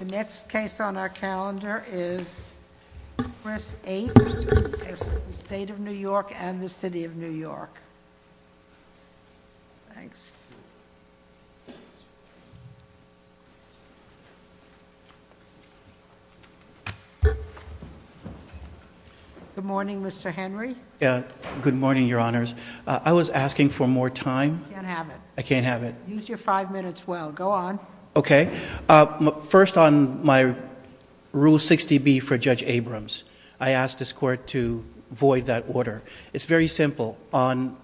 The next case on our calendar is Chris H. v. State of New York and the City of New York. Thanks. Good morning, Mr. Henry. Good morning, Your Honors. I was asking for more time. I can't have it. I can't have it. Use your five minutes well. Go on. Okay. First, on my Rule 60B for Judge Abrams, I asked this Court to void that order. It's very simple. On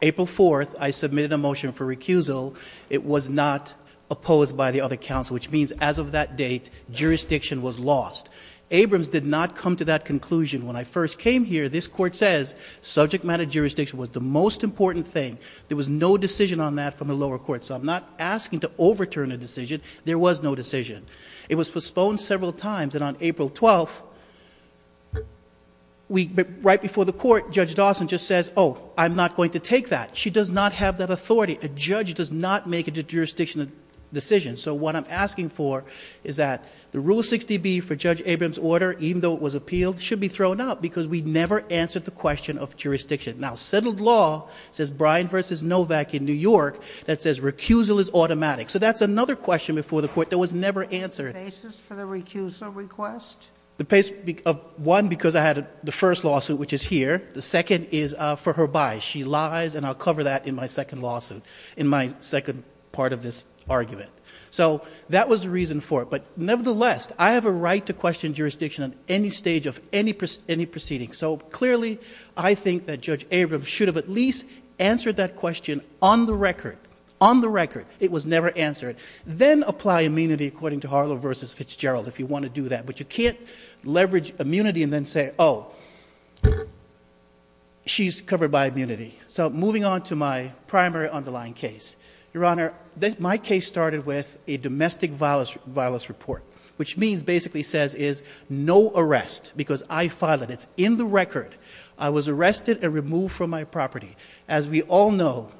April 4th, I submitted a motion for recusal. It was not opposed by the other counsel, which means as of that date, jurisdiction was lost. Abrams did not come to that conclusion. When I first came here, this Court says subject matter jurisdiction was the most important thing. There was no decision on that from the lower court. So I'm not asking to overturn a decision. There was no decision. It was postponed several times, and on April 12th, right before the court, Judge Dawson just says, oh, I'm not going to take that. She does not have that authority. A judge does not make a jurisdiction decision. So what I'm asking for is that the Rule 60B for Judge Abrams' order, even though it was appealed, should be thrown out because we never answered the question of jurisdiction. Now, settled law says Bryan v. Novak in New York that says recusal is automatic. So that's another question before the court that was never answered. The basis for the recusal request? One, because I had the first lawsuit, which is here. The second is for her bias. She lies, and I'll cover that in my second lawsuit, in my second part of this argument. So that was the reason for it. But nevertheless, I have a right to question jurisdiction at any stage of any proceeding. So clearly, I think that Judge Abrams should have at least answered that question on the record. On the record. It was never answered. Then apply immunity according to Harlow v. Fitzgerald if you want to do that. But you can't leverage immunity and then say, oh, she's covered by immunity. So moving on to my primary underlying case. Your Honor, my case started with a domestic violence report, which means, basically says, is no arrest, because I filed it. It's in the record. I was arrested and removed from my property. As we all know,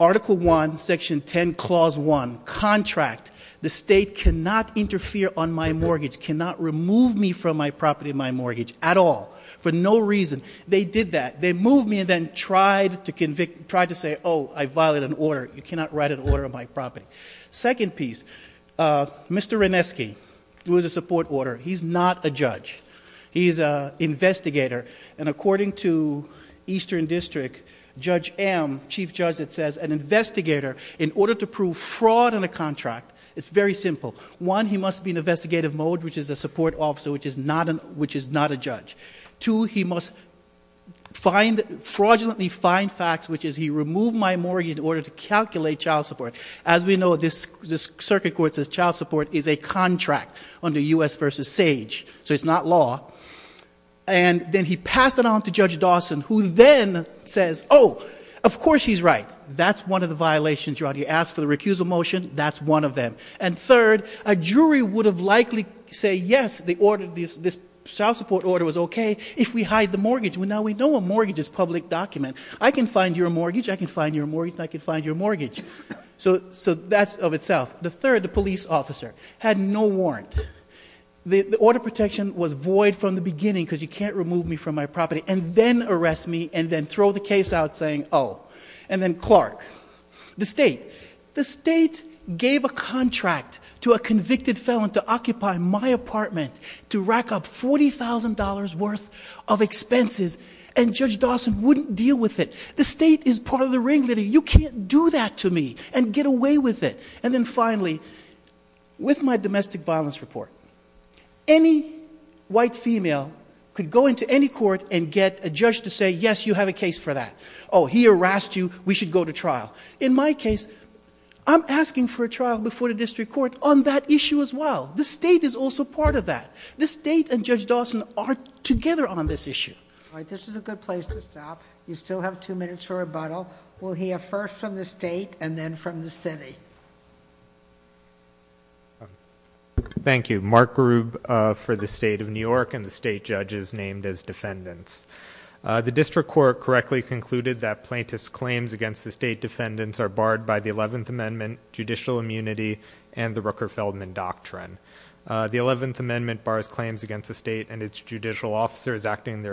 Article I, Section 10, Clause 1, contract. The state cannot interfere on my mortgage, cannot remove me from my property, my mortgage, at all. For no reason. They did that. They moved me and then tried to say, oh, I violated an order. You cannot write an order on my property. Second piece, Mr. Renesky, who is a support order, he's not a judge. He's an investigator, and according to Eastern District, Judge M, Chief Judge, it says an investigator, in order to prove fraud in a contract, it's very simple. One, he must be in investigative mode, which is a support officer, which is not a judge. Two, he must fraudulently find facts, which is he removed my mortgage in order to calculate child support. As we know, this circuit court says child support is a contract under U.S. v. SAGE, so it's not law. And then he passed it on to Judge Dawson, who then says, oh, of course he's right. That's one of the violations. He asked for the recusal motion. That's one of them. And third, a jury would have likely said, yes, this child support order was okay if we hide the mortgage. Well, now we know a mortgage is a public document. I can find your mortgage. I can find your mortgage. I can find your mortgage. So that's of itself. The third, the police officer had no warrant. The order of protection was void from the beginning because you can't remove me from my property, and then arrest me, and then throw the case out saying, oh. And then Clark, the state. The state gave a contract to a convicted felon to occupy my apartment to rack up $40,000 worth of expenses, and Judge Dawson wouldn't deal with it. The state is part of the ringleader. You can't do that to me and get away with it. And then finally, with my domestic violence report, any white female could go into any court and get a judge to say, yes, you have a case for that. Oh, he harassed you. We should go to trial. In my case, I'm asking for a trial before the district court on that issue as well. The state is also part of that. The state and Judge Dawson are together on this issue. All right. This is a good place to stop. You still have two minutes for rebuttal. We'll hear first from the state and then from the city. Thank you. Mark Grube for the state of New York and the state judges named as defendants. The district court correctly concluded that plaintiff's claims against the state defendants are barred by the 11th Amendment, judicial immunity, and the Rooker-Feldman Doctrine. The 11th Amendment bars claims against a state and its judicial officers acting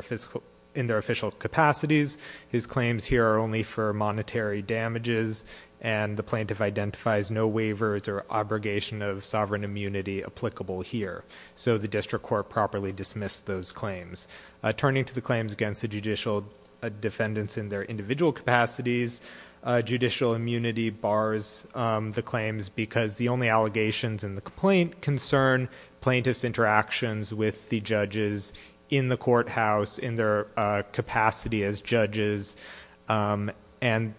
in their official capacities. His claims here are only for monetary damages, and the plaintiff identifies no waivers or obligation of sovereign immunity applicable here. So the district court properly dismissed those claims. Turning to the claims against the judicial defendants in their individual capacities, judicial immunity bars the claims because the only allegations in the complaint concern plaintiff's interactions with the judges in the courthouse, in their capacity as judges, and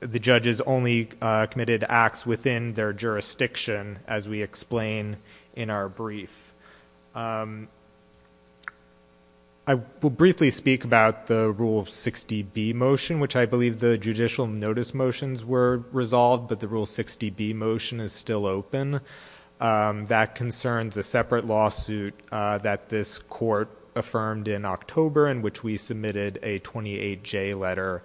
the judges only committed acts within their jurisdiction, as we explain in our brief. I will briefly speak about the Rule 60B motion, which I believe the judicial notice motions were resolved, but the Rule 60B motion is still open. That concerns a separate lawsuit that this court affirmed in October, in which we submitted a 28-J letter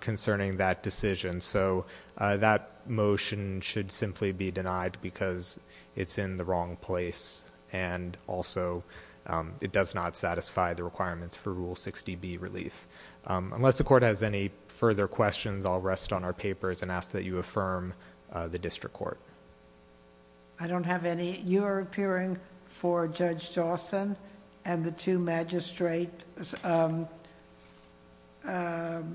concerning that decision. So that motion should simply be denied because it's in the wrong place, and also it does not satisfy the requirements for Rule 60B relief. Unless the court has any further questions, I'll rest on our papers and ask that you affirm the district court. I don't have any. You are appearing for Judge Dawson and the two magistrates. That's correct.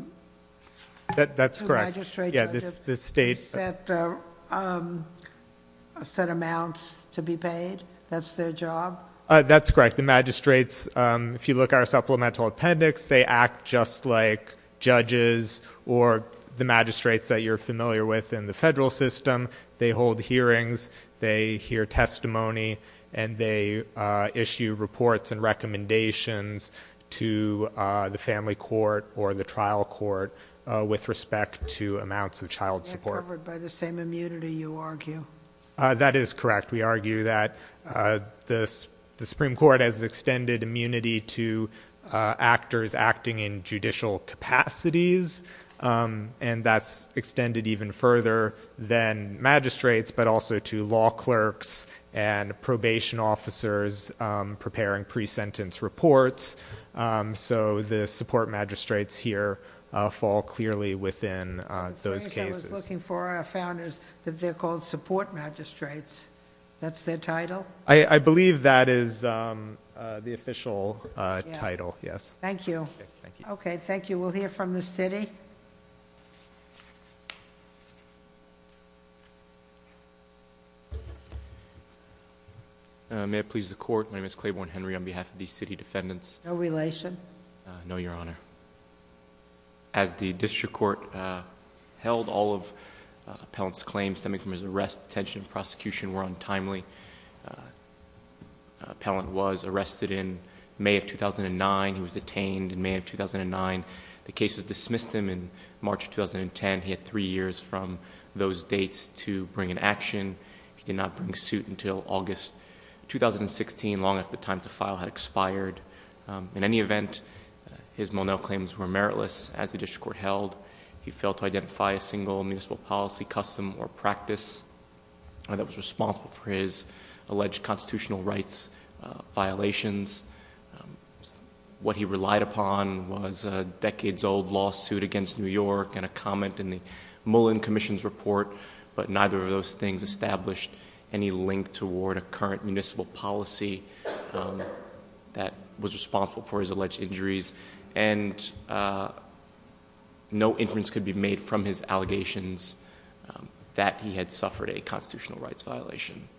Two magistrate judges. Yeah, this state. Set amounts to be paid. That's their job. That's correct. The magistrates, if you look at our supplemental appendix, they act just like judges or the magistrates that you're familiar with in the federal system. They hold hearings, they hear testimony, and they issue reports and recommendations to the family court or the trial court with respect to amounts of child support. They're covered by the same immunity, you argue? That is correct. We argue that the Supreme Court has extended immunity to actors acting in judicial capacities, and that's extended even further than magistrates, but also to law clerks and probation officers preparing pre-sentence reports. So the support magistrates here fall clearly within those cases. That's what I was looking for. I found that they're called support magistrates. That's their title? I believe that is the official title, yes. Thank you. Okay, thank you. We'll hear from the city. May I please the court? My name is Claiborne Henry on behalf of the city defendants. No relation? No, Your Honor. As the district court held, all of Appellant's claims stemming from his arrest, detention, and prosecution were untimely. Appellant was arrested in May of 2009. He was detained in May of 2009. The case was dismissed in March of 2010. He had three years from those dates to bring an action. He did not bring suit until August 2016, long after the time to file had expired. In any event, his Monell claims were meritless. As the district court held, he failed to identify a single municipal policy custom or practice that was responsible for his alleged constitutional rights violations. What he relied upon was a decades old lawsuit against New York and a comment in the Mullen Commission's report. But neither of those things established any link toward a current municipal policy that was responsible for his alleged injuries. And no inference could be made from his allegations that he had suffered a constitutional rights violation.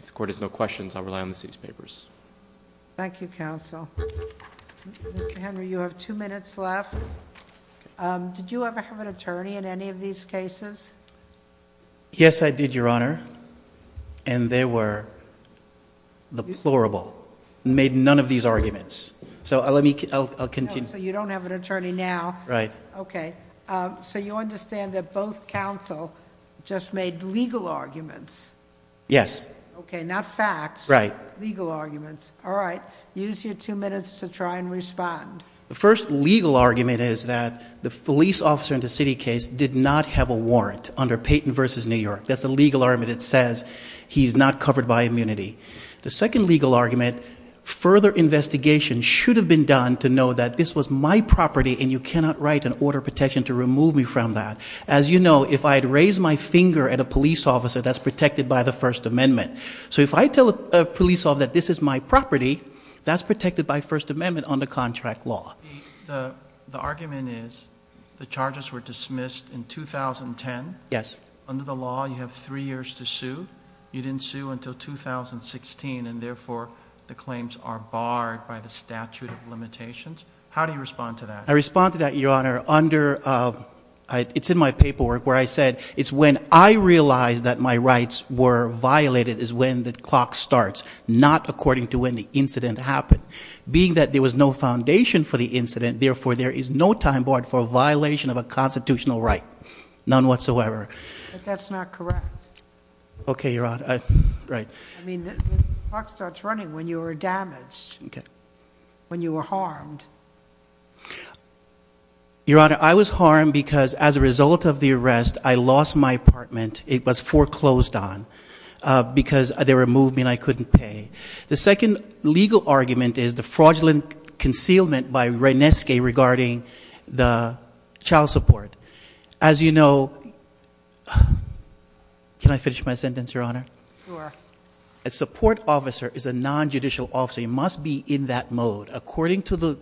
If the court has no questions, I'll rely on the city's papers. Thank you, counsel. Mr. Henry, you have two minutes left. Did you ever have an attorney in any of these cases? Yes, I did, Your Honor. And they were deplorable. Made none of these arguments. So let me continue. So you don't have an attorney now? Right. Okay. So you understand that both counsel just made legal arguments? Yes. Okay, not facts. Right. Legal arguments. All right. Use your two minutes to try and respond. The first legal argument is that the police officer in the city case did not have a warrant under Payton v. New York. That's a legal argument that says he's not covered by immunity. The second legal argument, further investigation should have been done to know that this was my property and you cannot write an order of protection to remove me from that. As you know, if I had raised my finger at a police officer, that's protected by the First Amendment. So if I tell a police officer that this is my property, that's protected by First Amendment under contract law. The argument is the charges were dismissed in 2010. Yes. Under the law, you have three years to sue. You didn't sue until 2016, and, therefore, the claims are barred by the statute of limitations. How do you respond to that? I respond to that, Your Honor, under my paperwork where I said it's when I realized that my rights were violated is when the clock starts, not according to when the incident happened. Being that there was no foundation for the incident, therefore, there is no time barred for violation of a constitutional right, none whatsoever. But that's not correct. Okay, Your Honor. Right. I mean, the clock starts running when you are damaged. Okay. When you are harmed. Your Honor, I was harmed because as a result of the arrest, I lost my apartment. It was foreclosed on because they removed me and I couldn't pay. The second legal argument is the fraudulent concealment by Reineske regarding the child support. As you know, can I finish my sentence, Your Honor? Sure. A support officer is a non-judicial officer. You must be in that mode. According to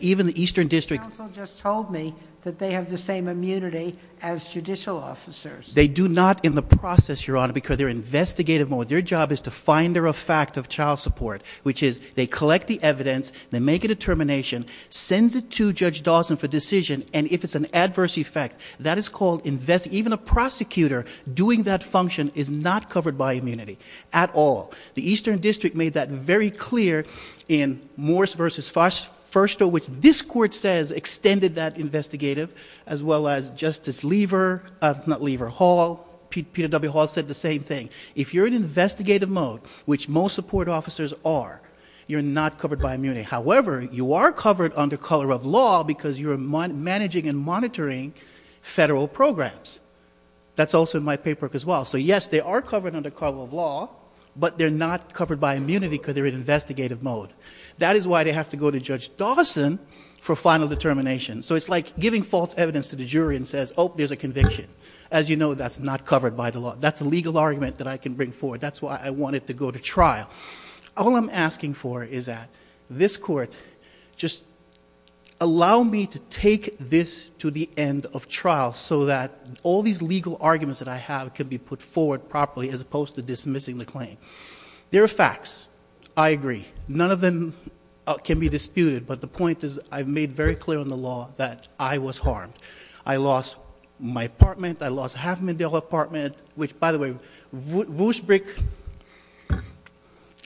even the Eastern District. The counsel just told me that they have the same immunity as judicial officers. They do not in the process, Your Honor, because they're in investigative mode. Their job is to find a fact of child support, which is they collect the evidence, they make a determination, sends it to Judge Dawson for decision, and if it's an adverse effect, that is called investigative. Even a prosecutor doing that function is not covered by immunity at all. The Eastern District made that very clear in Morris v. Foster, which this court says extended that investigative as well as Justice Lever, not Lever, Hall, Peter W. Hall said the same thing. If you're in investigative mode, which most support officers are, you're not covered by immunity. However, you are covered under color of law because you're managing and monitoring federal programs. That's also in my paperwork as well. So, yes, they are covered under color of law, but they're not covered by immunity because they're in investigative mode. That is why they have to go to Judge Dawson for final determination. So it's like giving false evidence to the jury and says, oh, there's a conviction. As you know, that's not covered by the law. That's a legal argument that I can bring forward. That's why I want it to go to trial. All I'm asking for is that this court just allow me to take this to the end of trial so that all these legal arguments that I have can be put forward properly as opposed to dismissing the claim. There are facts. I agree. None of them can be disputed, but the point is I've made very clear in the law that I was harmed. I lost my apartment. I lost half of my apartment, which, by the way, Wuschbrick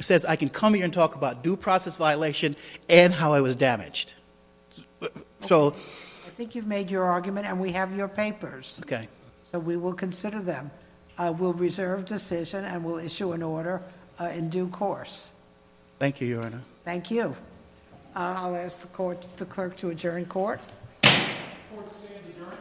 says I can come here and talk about due process violation and how I was damaged. So- I think you've made your argument, and we have your papers. Okay. So we will consider them. We'll reserve decision, and we'll issue an order in due course. Thank you, Your Honor. Thank you. I'll ask the clerk to adjourn court. Court is adjourned.